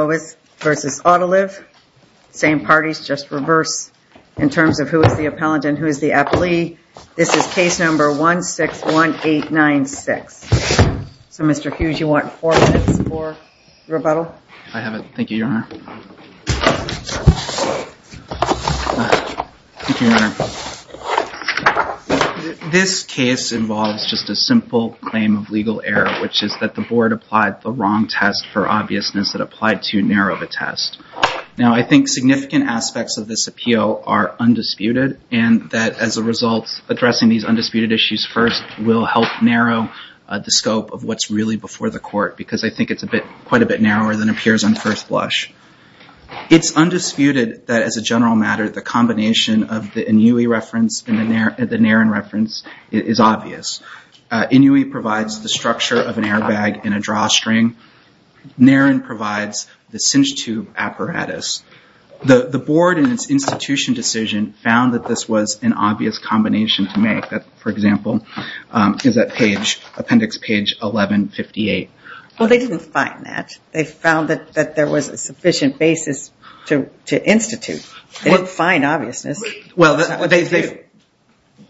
Mobis v. Autoliv, same parties, just reverse in terms of who is the appellant and who is the appellee. This is case number 161896. So Mr. Hughes, you want four minutes for rebuttal? I have it. Thank you, Your Honor. This case involves just a simple claim of legal error, which is that the board applied the wrong test for obviousness that applied to narrow the test. Now I think significant aspects of this appeal are undisputed, and that as a result, addressing these undisputed issues first will help narrow the scope of what's really before the court, because I think it's quite a bit narrower than appears on first blush. It's undisputed that as a general matter, the combination of the Inouye reference and of an airbag and a drawstring, NARIN provides the cinch tube apparatus. The board in its institution decision found that this was an obvious combination to make. For example, is that appendix page 1158? Well, they didn't find that. They found that there was a sufficient basis to institute. They didn't find obviousness.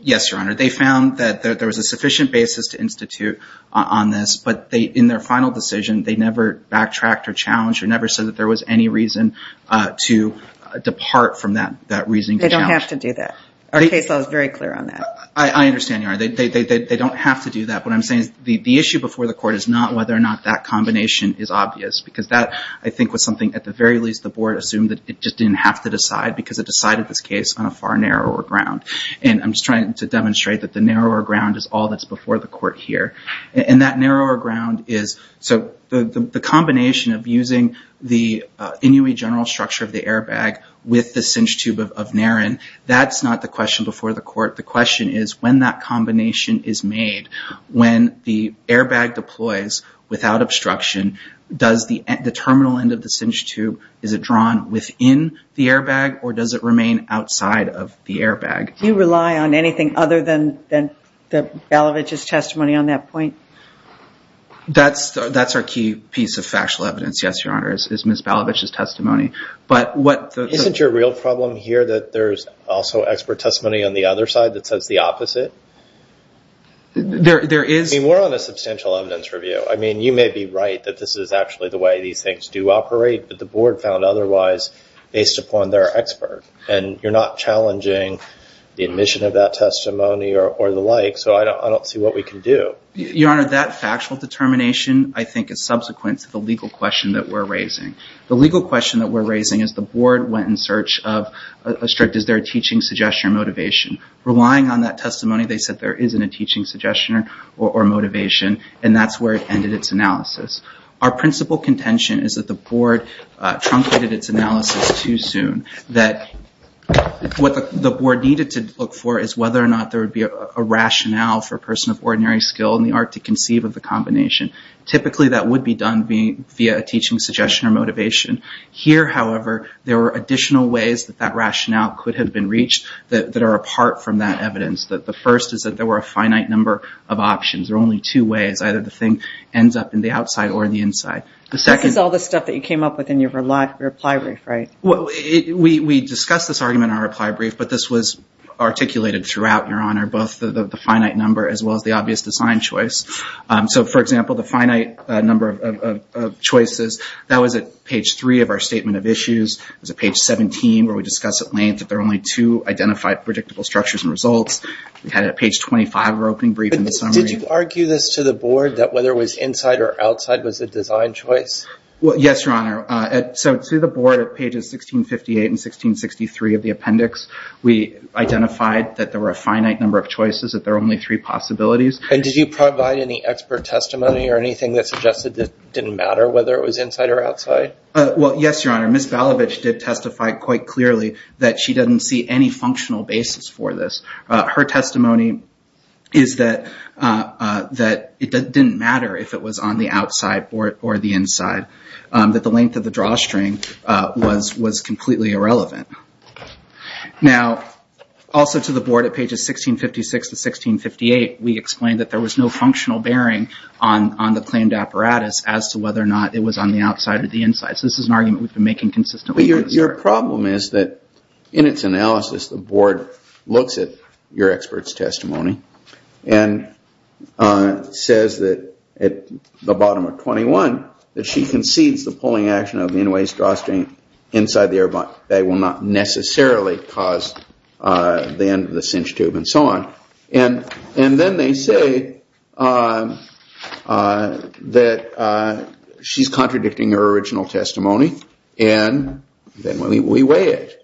Yes, Your Honor. They found that there was a sufficient basis to institute on this, but in their final decision, they never backtracked or challenged or never said that there was any reason to depart from that reasoning. They don't have to do that. Our case law is very clear on that. I understand, Your Honor. They don't have to do that. What I'm saying is the issue before the court is not whether or not that combination is obvious, because that, I think, was something at the very least the board assumed that it just didn't have to decide because it decided this case on a far narrower ground. And I'm just trying to demonstrate that the narrower ground is all that's before the court here. And that narrower ground is... So the combination of using the Inouye general structure of the airbag with the cinch tube of NARIN, that's not the question before the court. The question is when that combination is made, when the airbag deploys without obstruction, does the terminal end of the cinch tube, is it drawn within the airbag or does it remain outside of the airbag? Do you rely on anything other than Balavich's testimony on that point? That's our key piece of factual evidence, yes, Your Honor, is Ms. Balavich's testimony. Isn't your real problem here that there's also expert testimony on the other side that says the opposite? There is... I mean, we're on a substantial evidence review. I mean, you may be right that this is actually the way these things do operate, but the board found otherwise based upon their expert. And you're not challenging the admission of that testimony or the like, so I don't see what we can do. Your Honor, that factual determination, I think, is subsequent to the legal question that we're raising. The legal question that we're raising is the board went in search of a strict, is there a teaching suggestion or motivation? Relying on that testimony, they said there isn't a teaching suggestion or motivation, and that's where it ended its analysis. Our principal contention is that the board truncated its analysis too soon, that what the board needed to look for is whether or not there would be a rationale for a person of ordinary skill in the art to conceive of the combination. Typically, that would be done via a teaching suggestion or motivation. Here, however, there were additional ways that that rationale could have been reached that are apart from that evidence. The first is that there were a finite number of options. There are only two ways. Either the thing ends up in the outside or the inside. This is all the stuff that you came up with in your reply brief, right? We discussed this argument in our reply brief, but this was articulated throughout, Your Honor, both the finite number as well as the obvious design choice. So, for example, the finite number of choices, that was at page three of our statement of issues. It was at page 17 where we discussed at length that there are only two identified predictable structures and results. We had it at page 25 of our opening brief in the summary. Did you argue this to the board that whether it was inside or outside was a design choice? Yes, Your Honor. So, to the board at pages 1658 and 1663 of the appendix, we identified that there were a finite number of choices, that there are only three possibilities. Did you provide any expert testimony or anything that suggested it didn't matter whether it was inside or outside? Well, yes, Your Honor. Ms. Balavich did testify quite clearly that she doesn't see any functional basis for this. Her testimony is that it didn't matter if it was on the outside or the inside, that the length of the drawstring was completely irrelevant. Now, also to the board at pages 1656 to 1658, we explained that there was no functional bearing on the claimed apparatus as to whether or not it was on the outside or the inside. So, this is an argument we've been making consistently. Your problem is that in its analysis, the board looks at your expert's testimony and says that at the bottom of 21, that she concedes the pulling action of the in-way drawstring inside the airlock. They will not necessarily cause the end of the cinch tube and so on. And then they say that she's contradicting her original testimony and then we weigh it.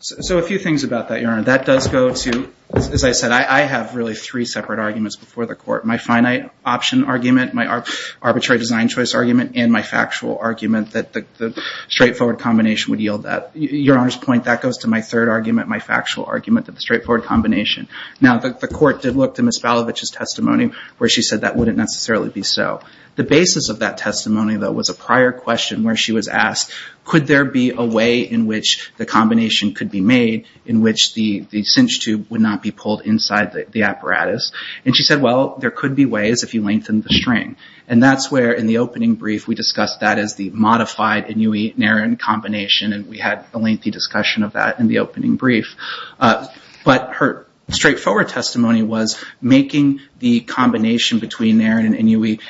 So, a few things about that, Your Honor. That does go to, as I said, I have really three separate arguments before the court. My finite option argument, my arbitrary design choice argument, and my factual argument that the straightforward combination would yield that. Your Honor's point, that goes to my third argument, my factual argument that the straightforward combination. Now, the court did look to Ms. Balavich's testimony where she said that wouldn't necessarily be so. The basis of that testimony, though, was a prior question where she was asked, could there be a way in which the combination could be made in which the cinch tube would not be pulled inside the apparatus? And she said, well, there could be ways if you lengthen the string. And that's where, in the opening brief, we discussed that as the modified Inui-Narin combination and we had a lengthy discussion of that in the opening brief. But her straightforward testimony was making the combination between Narin and Inui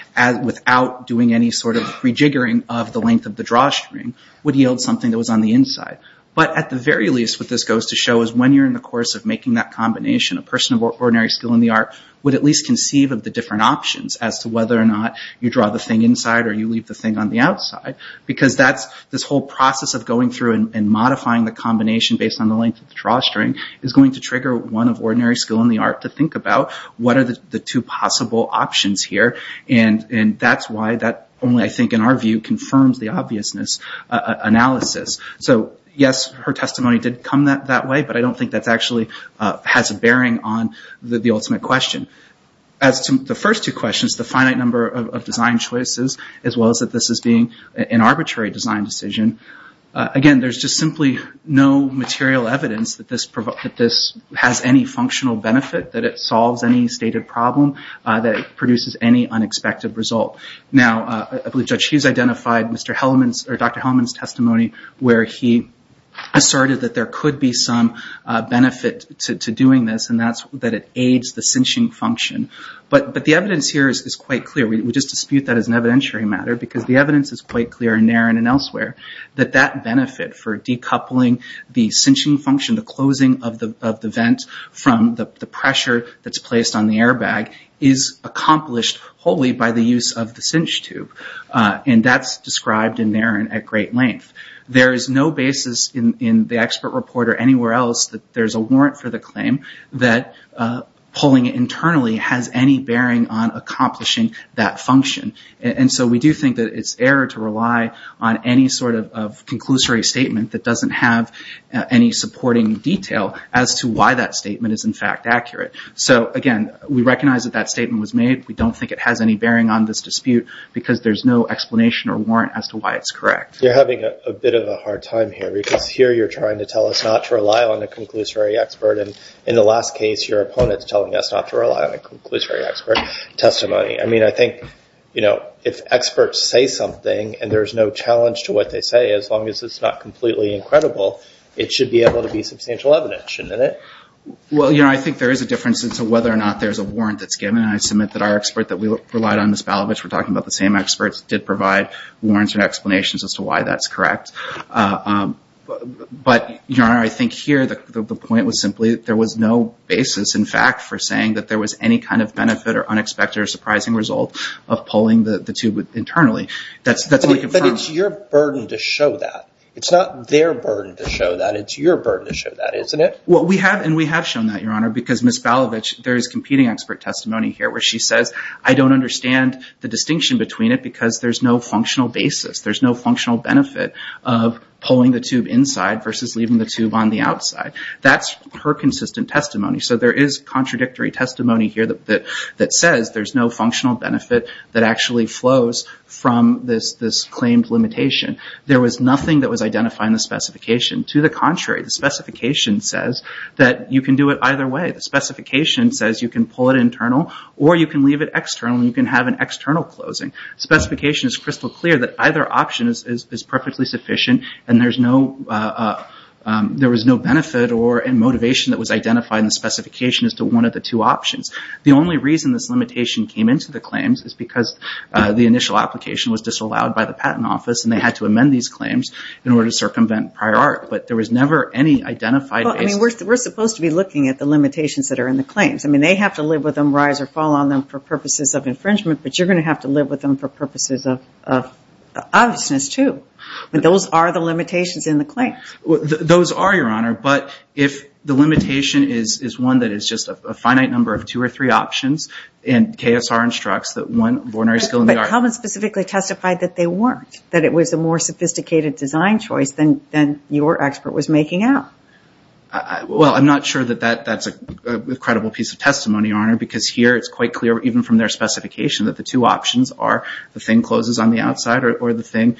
without doing any sort of rejiggering of the length of the drawstring would yield something that was on the inside. But at the very least, what this goes to show is when you're in the course of making that combination, a person of ordinary skill in the art would at least conceive of the different options as to whether or not you draw the thing inside or you leave the thing on the outside. Because this whole process of going through and modifying the combination based on the length of the drawstring is going to trigger one of ordinary skill in the art to think about what are the two possible options here and that's why that only, I think, in our view, confirms the obviousness analysis. So, yes, her testimony did come that way, but I don't think that actually has a bearing on the ultimate question. As to the first two questions, the finite number of design choices, as well as that this is being an arbitrary design decision, again, there's just simply no material evidence that this has any functional benefit, that it solves any stated problem, that it produces any unexpected result. Now, I believe Judge Hughes identified Dr. Hellman's testimony where he asserted that there could be some benefit to doing this and that it aids the cinching function. But the evidence here is quite clear. We just dispute that as an evidentiary matter because the evidence is quite clear in Narin and elsewhere that that benefit for decoupling the cinching function, the closing of the vent from the pressure that's placed on the airbag, is accomplished wholly by the use of the cinch tube. And that's described in Narin at great length. There is no basis in the expert report or anywhere else that there's a warrant for the claim that pulling it internally has any bearing on accomplishing that function. And so we do think that it's error to rely on any sort of conclusory statement that doesn't have any supporting detail as to why that statement is, in fact, accurate. So, again, we recognize that that statement was made. We don't think it has any bearing on this dispute because there's no explanation or warrant as to why it's correct. You're having a bit of a hard time here because here you're trying to tell us not to rely on a conclusory expert. And in the last case, your opponent's telling us not to rely on a conclusory expert testimony. I mean, I think, you know, if experts say something and there's no challenge to what they say, as long as it's not completely incredible, it should be able to be substantial evidence. Shouldn't it? Well, you know, I think there is a difference as to whether or not there's a warrant that's given. And I submit that our expert that we relied on, Ms. Balovich, we're talking about the same experts, did provide warrants and explanations as to why that's correct. But, Your Honor, I think here the point was simply there was no basis, in fact, for saying that there was any kind of benefit or unexpected or surprising result of pulling the tube internally. But it's your burden to show that. It's not their burden to show that. It's your burden to show that, isn't it? Well, we have, and we have shown that, Your Honor, because Ms. Balovich, there is competing expert testimony here where she says, I don't understand the distinction between it because there's no functional basis. There's no functional benefit of pulling the tube inside versus leaving the tube on the outside. That's her consistent testimony. So there is contradictory testimony here that says there's no functional benefit that actually flows from this claimed limitation. There was nothing that was identified in the specification. To the contrary, the specification says that you can do it either way. The specification says you can pull it internal or you can leave it external and you can have an external closing. The specification is crystal clear that either option is perfectly sufficient and there was no benefit or motivation that was identified in the specification as to one of the two options. The only reason this limitation came into the claims is because the initial application was disallowed by the Patent Office and they had to amend these claims in order to circumvent prior art. But there was never any identified basis. Well, I mean, we're supposed to be looking at the limitations that are in the claims. I mean, they have to live with them, rise or fall on them for purposes of infringement, but you're going to have to live with them for purposes of obviousness too. Those are, Your Honor. But if the limitation is one that is just a finite number of two or three options and KSR instructs that one ordinary skill in the art... But Hellman specifically testified that they weren't, that it was a more sophisticated design choice than your expert was making out. Well, I'm not sure that that's a credible piece of testimony, Your Honor, because here it's quite clear, even from their specification, that the two options are the thing closes on the outside or the thing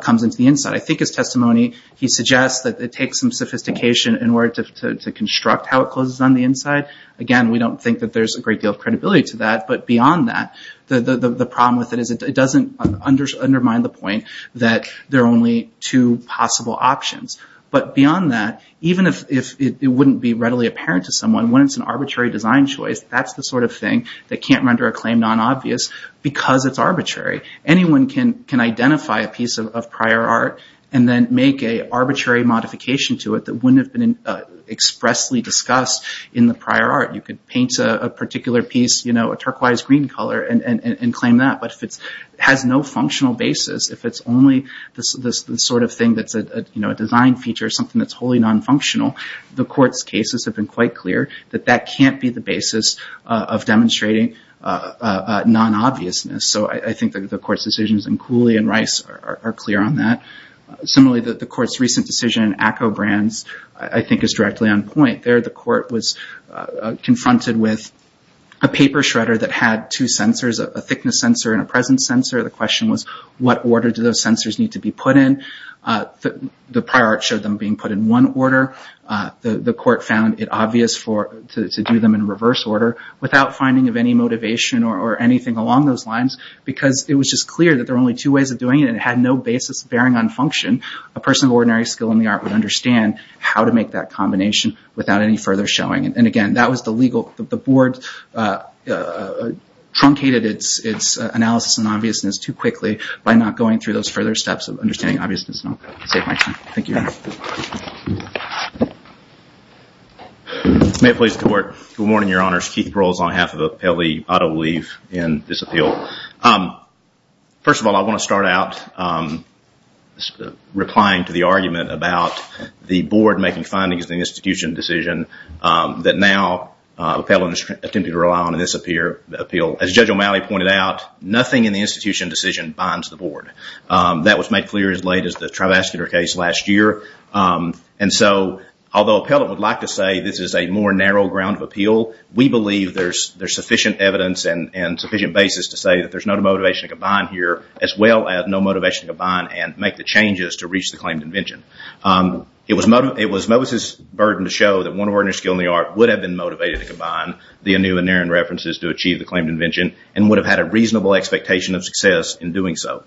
comes into the inside. I think his testimony, he suggests that it takes some sophistication in order to construct how it closes on the inside. Again, we don't think that there's a great deal of credibility to that. But beyond that, the problem with it is it doesn't undermine the point that there are only two possible options. But beyond that, even if it wouldn't be readily apparent to someone, when it's an arbitrary design choice, that's the sort of thing that can't render a claim non-obvious because it's arbitrary. Anyone can identify a piece of prior art and then make an arbitrary modification to it that wouldn't have been expressly discussed in the prior art. You could paint a particular piece, you know, a turquoise green color and claim that. But if it has no functional basis, if it's only the sort of thing that's a design feature, something that's wholly non-functional, the court's cases have been quite clear that that can't be the basis of demonstrating non-obviousness. So I think the court's decisions in Cooley and Rice are clear on that. Similarly, the court's recent decision in ACCO Brands, I think is directly on point. There the court was confronted with a paper shredder that had two sensors, a thickness sensor and a presence sensor. The question was, what order do those sensors need to be put in? The prior art showed them being put in one order. The court found it obvious to do them in reverse order without finding of any motivation or anything along those lines because it was just clear that there were only two ways of doing it and it had no basis bearing on function. A person of ordinary skill in the art would understand how to make that combination without any further showing. And again, that was the legal – the board truncated its analysis on obviousness too quickly by not going through those further steps of understanding obviousness. I'll save my time. Thank you. May it please the court. Good morning, Your Honors. Keith Pearls on behalf of the Appellee. I will leave in this appeal. First of all, I want to start out replying to the argument about the board making findings in the institution decision that now the appellant is attempting to rely on in this appeal. As Judge O'Malley pointed out, nothing in the institution decision binds the board. That was made clear as late as the Trivascular case last year. And so although appellant would like to say this is a more narrow ground of appeal, we believe there's sufficient evidence and sufficient basis to say that there's no motivation to combine here as well as no motivation to combine and make the changes to reach the claim to invention. It was Moses' burden to show that one of ordinary skill in the art would have been motivated to combine the Anu and Aaron references to achieve the claim to invention and would have had a reasonable expectation of success in doing so.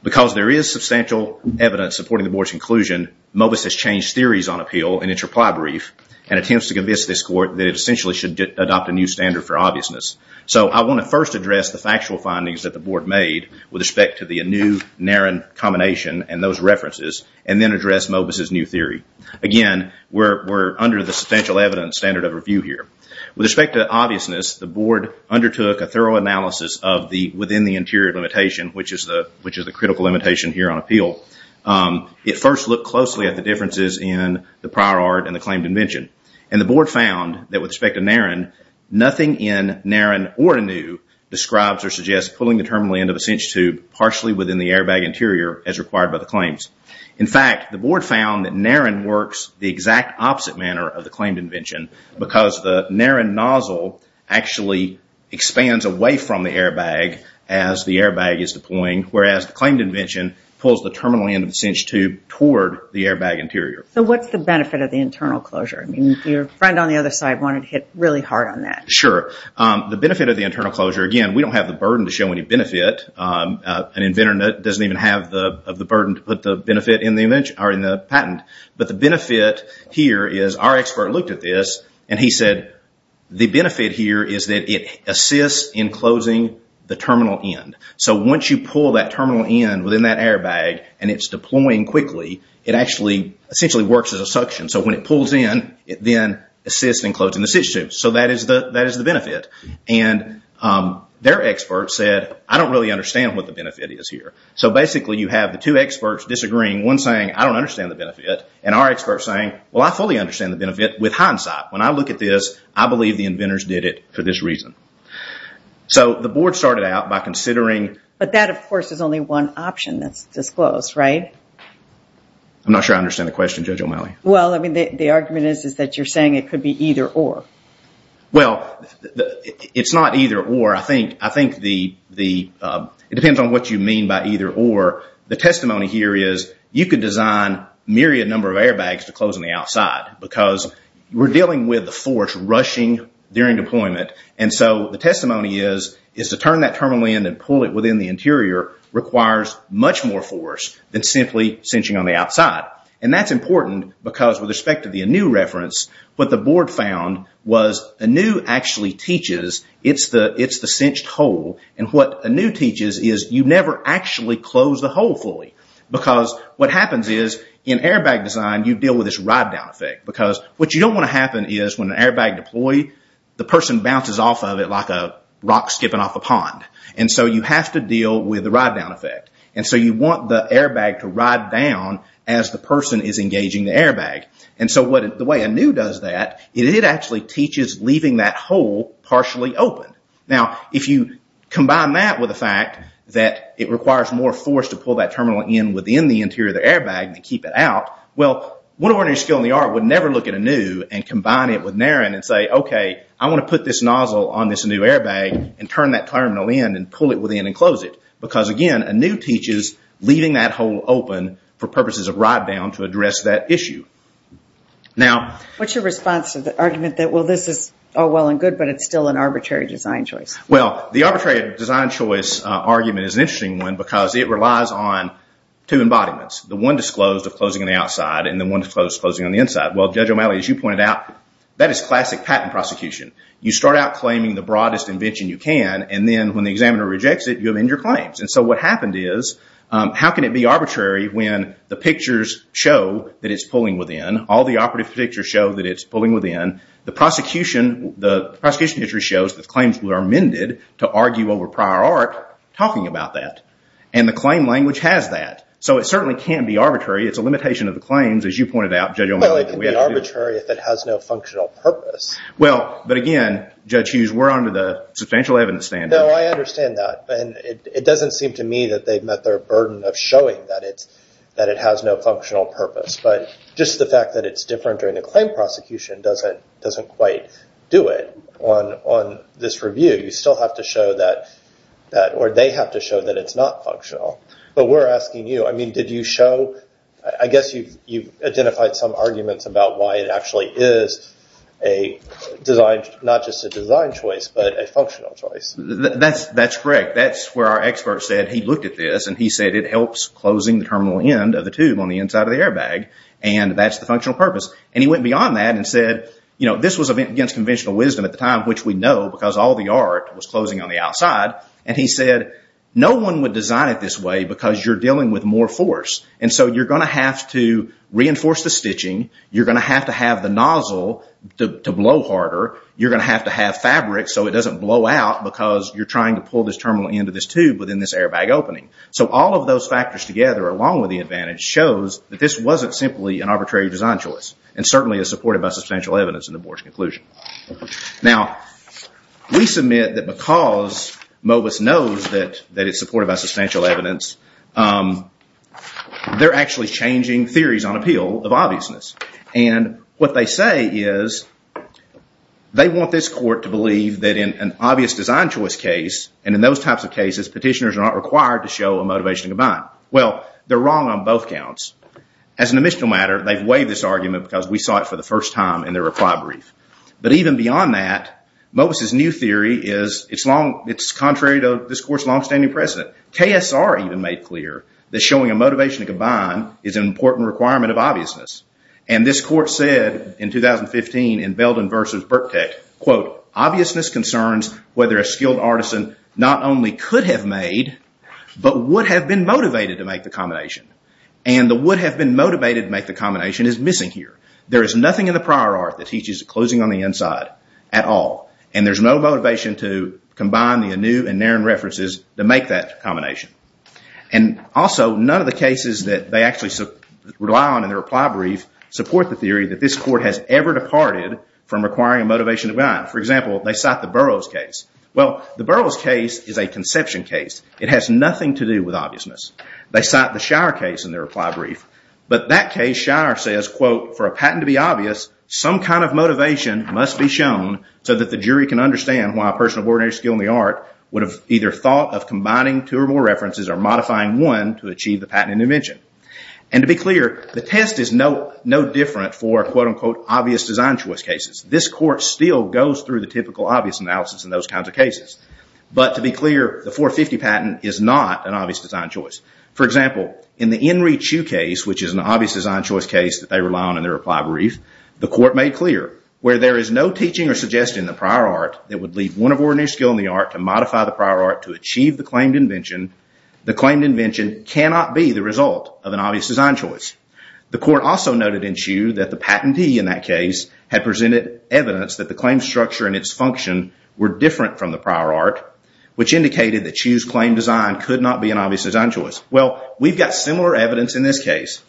Because there is substantial evidence supporting the board's inclusion, Mobus has changed theories on appeal in its reply brief and attempts to convince this court that it essentially should adopt a new standard for obviousness. So I want to first address the factual findings that the board made with respect to the Anu-Aaron combination and those references and then address Mobus' new theory. Again, we're under the substantial evidence standard of review here. With respect to obviousness, the board undertook a thorough analysis of the within the interior limitation, which is the critical limitation here on appeal. It first looked closely at the differences in the prior art and the claim to invention. And the board found that with respect to Naren, nothing in Naren or Anu describes or suggests pulling the terminal end of a cinch tube partially within the airbag interior as required by the claims. In fact, the board found that Naren works the exact opposite manner of the claimed invention because the Naren nozzle actually expands away from the airbag as the airbag is deploying, whereas the claimed invention pulls the terminal end of the cinch tube toward the airbag interior. So what's the benefit of the internal closure? Your friend on the other side wanted to hit really hard on that. Sure. The benefit of the internal closure, again, we don't have the burden to show any benefit. An inventor doesn't even have the burden to put the benefit in the patent. But the benefit here is our expert looked at this and he said, the benefit here is that it assists in closing the terminal end. So once you pull that terminal end within that airbag and it's deploying quickly, it actually essentially works as a suction. So when it pulls in, it then assists in closing the cinch tube. So that is the benefit. And their expert said, I don't really understand what the benefit is here. So basically you have the two experts disagreeing, one saying, I don't understand the benefit, and our expert saying, well, I fully understand the benefit with hindsight. When I look at this, I believe the inventors did it for this reason. So the board started out by considering. But that, of course, is only one option that's disclosed, right? I'm not sure I understand the question, Judge O'Malley. Well, I mean, the argument is that you're saying it could be either or. Well, it's not either or. I think it depends on what you mean by either or. The testimony here is you could design myriad number of airbags to close on the outside because we're dealing with the force rushing during deployment. And so the testimony is to turn that terminal end and pull it within the interior requires much more force than simply cinching on the outside. And that's important because with respect to the ANEW reference, what the board found was ANEW actually teaches it's the cinched hole. And what ANEW teaches is you never actually close the hole fully because what happens is in airbag design, you deal with this ride-down effect. Because what you don't want to happen is when an airbag deploy, the person bounces off of it like a rock skipping off a pond. And so you have to deal with the ride-down effect. And so you want the airbag to ride down as the person is engaging the airbag. And so the way ANEW does that, it actually teaches leaving that hole partially open. Now, if you combine that with the fact that it requires more force to pull that terminal end within the interior of the airbag to keep it out, well, one ordinary skill in the art would never look at ANEW and combine it with NARIN and say, okay, I want to put this nozzle on this new airbag and turn that terminal end and pull it within and close it. Because, again, ANEW teaches leaving that hole open for purposes of ride-down to address that issue. What's your response to the argument that, well, this is all well and good, but it's still an arbitrary design choice? Well, the arbitrary design choice argument is an interesting one because it relies on two embodiments. The one disclosed of closing on the outside and the one disclosed of closing on the inside. Well, Judge O'Malley, as you pointed out, that is classic patent prosecution. You start out claiming the broadest invention you can and then when the examiner rejects it, you amend your claims. And so what happened is how can it be arbitrary when the pictures show that it's pulling within, all the operative pictures show that it's pulling within, the prosecution history shows that claims were amended to argue over prior art talking about that. And the claim language has that. So it certainly can't be arbitrary. It's a limitation of the claims, as you pointed out, Judge O'Malley. Well, it can be arbitrary if it has no functional purpose. Well, but again, Judge Hughes, we're under the substantial evidence standard. No, I understand that. And it doesn't seem to me that they've met their burden of showing that it has no functional purpose. But just the fact that it's different during the claim prosecution doesn't quite do it on this review. You still have to show that, or they have to show that it's not functional. But we're asking you, I mean, did you show, I guess you've identified some arguments about why it actually is a design, not just a design choice, but a functional choice. That's correct. That's where our expert said he looked at this and he said it helps closing the terminal end of the tube on the inside of the airbag. And that's the functional purpose. And he went beyond that and said, this was against conventional wisdom at the time, which we know because all the art was closing on the outside. And he said no one would design it this way because you're dealing with more force. And so you're going to have to reinforce the stitching. You're going to have to have the nozzle to blow harder. You're going to have to have fabric so it doesn't blow out because you're trying to pull this terminal end of this tube within this airbag opening. So all of those factors together, along with the advantage, shows that this wasn't simply an arbitrary design choice and certainly is supported by substantial evidence in the board's conclusion. Now, we submit that because MOBIS knows that it's supported by substantial evidence, they're actually changing theories on appeal of obviousness. And what they say is they want this court to believe that in an obvious design choice case, and in those types of cases, petitioners are not required to show a motivation to combine. Well, they're wrong on both counts. As an admissional matter, they've waived this argument because we saw it for the first time in their reply brief. But even beyond that, MOBIS' new theory is it's contrary to this court's longstanding precedent. KSR even made clear that showing a motivation to combine is an important requirement of obviousness. And this court said in 2015 in Belden v. Burkteck, quote, obviousness concerns whether a skilled artisan not only could have made, but would have been motivated to make the combination. And the would have been motivated to make the combination is missing here. There is nothing in the prior art that teaches closing on the inside at all. And there's no motivation to combine the Anu and Naren references to make that combination. And also, none of the cases that they actually rely on in their reply brief support the theory that this court has ever departed from requiring a motivation to combine. For example, they cite the Burroughs case. Well, the Burroughs case is a conception case. It has nothing to do with obviousness. They cite the Shire case in their reply brief. But that case, Shire says, quote, for a patent to be obvious, some kind of motivation must be shown so that the jury can understand why a person of ordinary skill in the art would have either thought of combining two or more references or modifying one to achieve the patent intervention. And to be clear, the test is no different for, quote, unquote, obvious design choice cases. This court still goes through the typical obvious analysis in those kinds of cases. But to be clear, the 450 patent is not an obvious design choice. For example, in the Enri Chiu case, which is an obvious design choice case that they rely on in their reply brief, the court made clear, where there is no teaching or suggestion in the prior art that would leave one of ordinary skill in the art to modify the prior art to achieve the claimed invention, the claimed invention cannot be the result of an obvious design choice. The court also noted in Chiu that the patentee in that case had presented evidence that the claim structure and its function were different from the prior art, which indicated that Chiu's claim design could not be an obvious design choice. Well, we've got similar evidence in this case.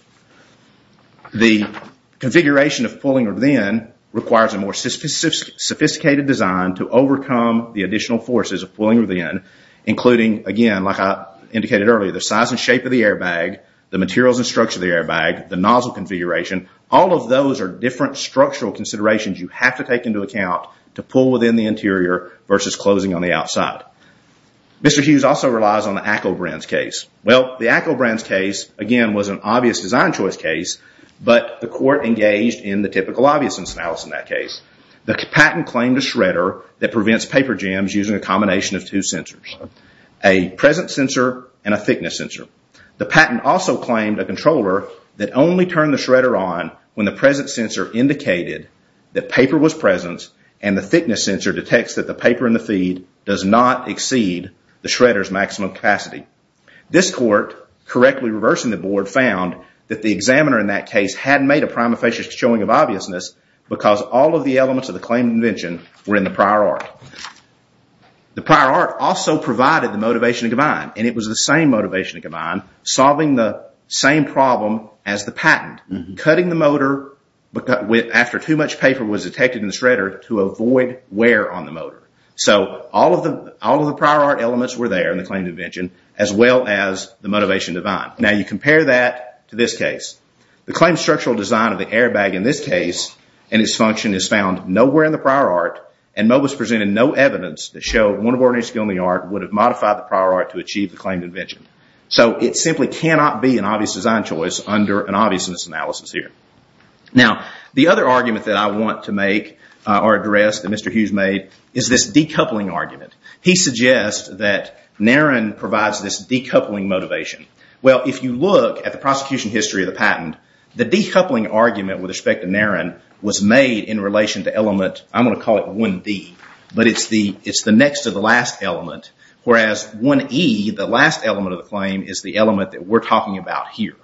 The configuration of pulling within requires a more sophisticated design to overcome the additional forces of pulling within, including, again, like I indicated earlier, the size and shape of the airbag, the materials and structure of the airbag, the nozzle configuration. All of those are different structural considerations you have to take into account to pull within the interior versus closing on the outside. Mr. Chiu's also relies on the Acklebrand's case. Well, the Acklebrand's case, again, was an obvious design choice case, but the court engaged in the typical obviousness analysis in that case. The patent claimed a shredder that prevents paper jams using a combination of two sensors, a present sensor and a thickness sensor. The patent also claimed a controller that only turned the shredder on when the present sensor indicated that paper was present and the thickness sensor detects that the paper in the feed does not exceed the shredder's maximum capacity. This court, correctly reversing the board, found that the examiner in that case hadn't made a prima facie showing of obviousness because all of the elements of the claim invention were in the prior art. The prior art also provided the motivation to combine, and it was the same motivation to combine, solving the same problem as the patent, cutting the motor after too much paper was detected in the shredder to avoid wear on the motor. So all of the prior art elements were there in the claim invention as well as the motivation to combine. Now, you compare that to this case. The claim structural design of the airbag in this case and its function is found nowhere in the prior art and MOBA's presented no evidence that showed one ordinary skill in the art would have modified the prior art to achieve the claim invention. So it simply cannot be an obvious design choice under an obviousness analysis here. Now, the other argument that I want to make or address that Mr. Hughes made is this decoupling argument. He suggests that Naren provides this decoupling motivation. Well, if you look at the prosecution history of the patent, the decoupling argument with respect to Naren was made in relation to element, I'm going to call it 1D, but it's the next to the last element, whereas 1E, the last element of the claim, is the element that we're talking about here.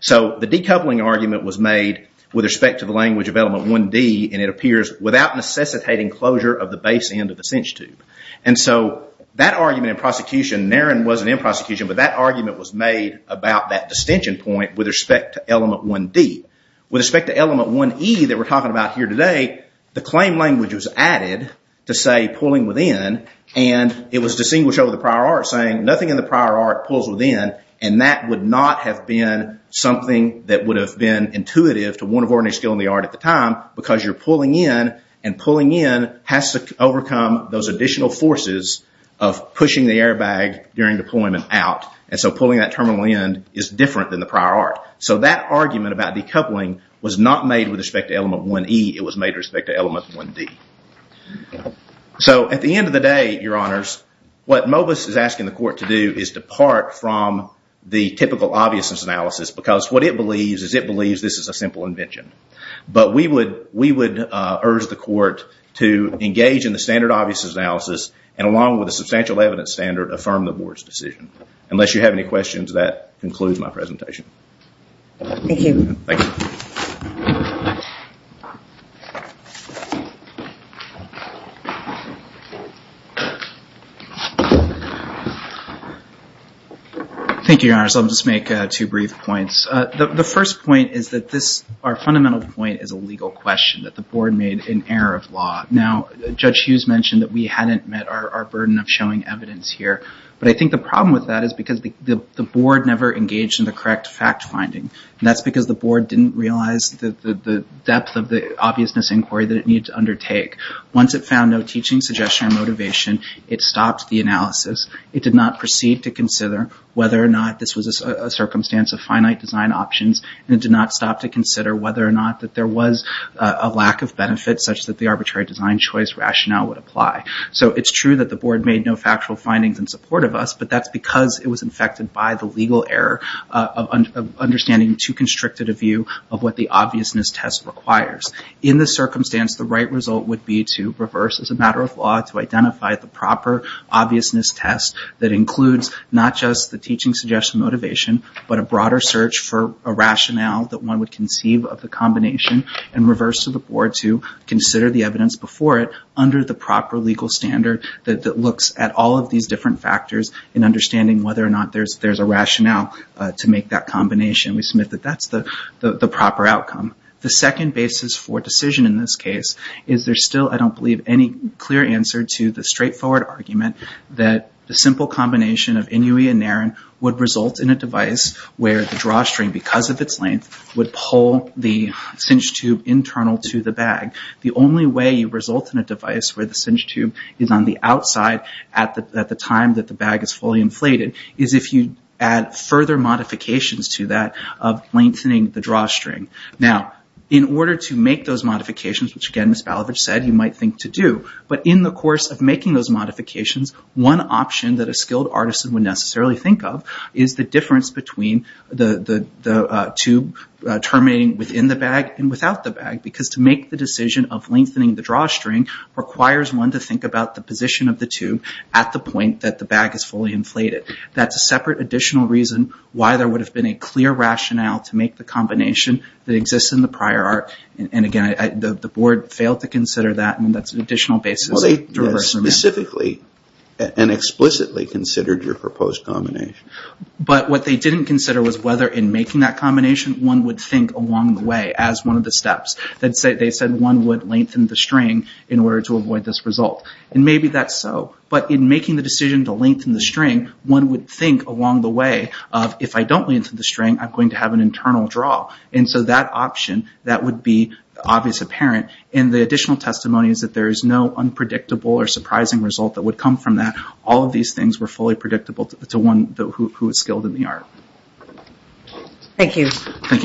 So the decoupling argument was made with respect to the language of element 1D and it appears without necessitating closure of the base end of the cinch tube. And so that argument in prosecution, Naren wasn't in prosecution, but that argument was made about that distinction point with respect to element 1D. With respect to element 1E that we're talking about here today, the claim language was added to say pulling within and it was distinguished over the prior art saying nothing in the prior art pulls within and that would not have been something that would have been intuitive to one of ordinary skill in the art at the time because you're pulling in and pulling in has to overcome those additional forces of pushing the airbag during deployment out and so pulling that terminal end is different than the prior art. So that argument about decoupling was not made with respect to element 1E, it was made with respect to element 1D. So at the end of the day, your honors, what MOBIS is asking the court to do is depart from the typical obviousness analysis because what it believes is it believes this is a simple invention. But we would urge the court to engage in the standard obviousness analysis and along with the substantial evidence standard affirm the board's decision. Unless you have any questions, that concludes my presentation. Thank you. Thank you. Thank you. Thank you, your honors. I'll just make two brief points. The first point is that this, our fundamental point is a legal question that the board made in error of law. Now, Judge Hughes mentioned that we hadn't met our burden of showing evidence here but I think the problem with that is because the board never engaged in the correct fact finding and that's because the board didn't realize the depth of the obviousness inquiry that it needed to undertake. Once it found no teaching suggestion or motivation, it stopped the analysis. It did not proceed to consider whether or not this was a circumstance of finite design options and it did not stop to consider whether or not that there was a lack of benefit such that the arbitrary design choice rationale would apply. So it's true that the board made no factual findings in support of us but that's because it was infected by the legal error of understanding too constricted a view of what the obviousness test requires. In this circumstance, the right result would be to reverse as a matter of law to identify the proper obviousness test that includes not just the teaching suggestion motivation but a broader search for a rationale that one would conceive of the combination and reverse to the board to consider the evidence before it under the proper legal standard that looks at all of these different factors in understanding whether or not there's a rationale to make that combination. We submit that that's the proper outcome. The second basis for decision in this case is there's still, I don't believe, any clear answer to the straightforward argument that the simple combination of Inui and Narin would result in a device where the drawstring, because of its length, would pull the cinch tube internal to the bag. The only way you result in a device where the cinch tube is on the outside at the time that the bag is fully inflated is if you add further modifications to that of lengthening the drawstring. Now, in order to make those modifications, which again Ms. Balavich said you might think to do, but in the course of making those modifications, one option that a skilled artisan would necessarily think of is the difference between the tube terminating within the bag and without the bag because to make the decision of lengthening the drawstring requires one to think about the position of the tube at the point that the bag is fully inflated. That's a separate additional reason why there would have been a clear rationale to make the combination that exists in the prior art. Again, the board failed to consider that and that's an additional basis. They specifically and explicitly considered your proposed combination. But what they didn't consider was whether in making that combination one would think along the way as one of the steps. They said one would lengthen the string in order to avoid this result. Maybe that's so, but in making the decision to lengthen the string, one would think along the way of if I don't lengthen the string I'm going to have an internal draw. So that option, that would be obvious apparent. The additional testimony is that there is no unpredictable or surprising result that would come from that. All of these things were fully predictable to one who was skilled in the art. Thank you. Thank you, Erin.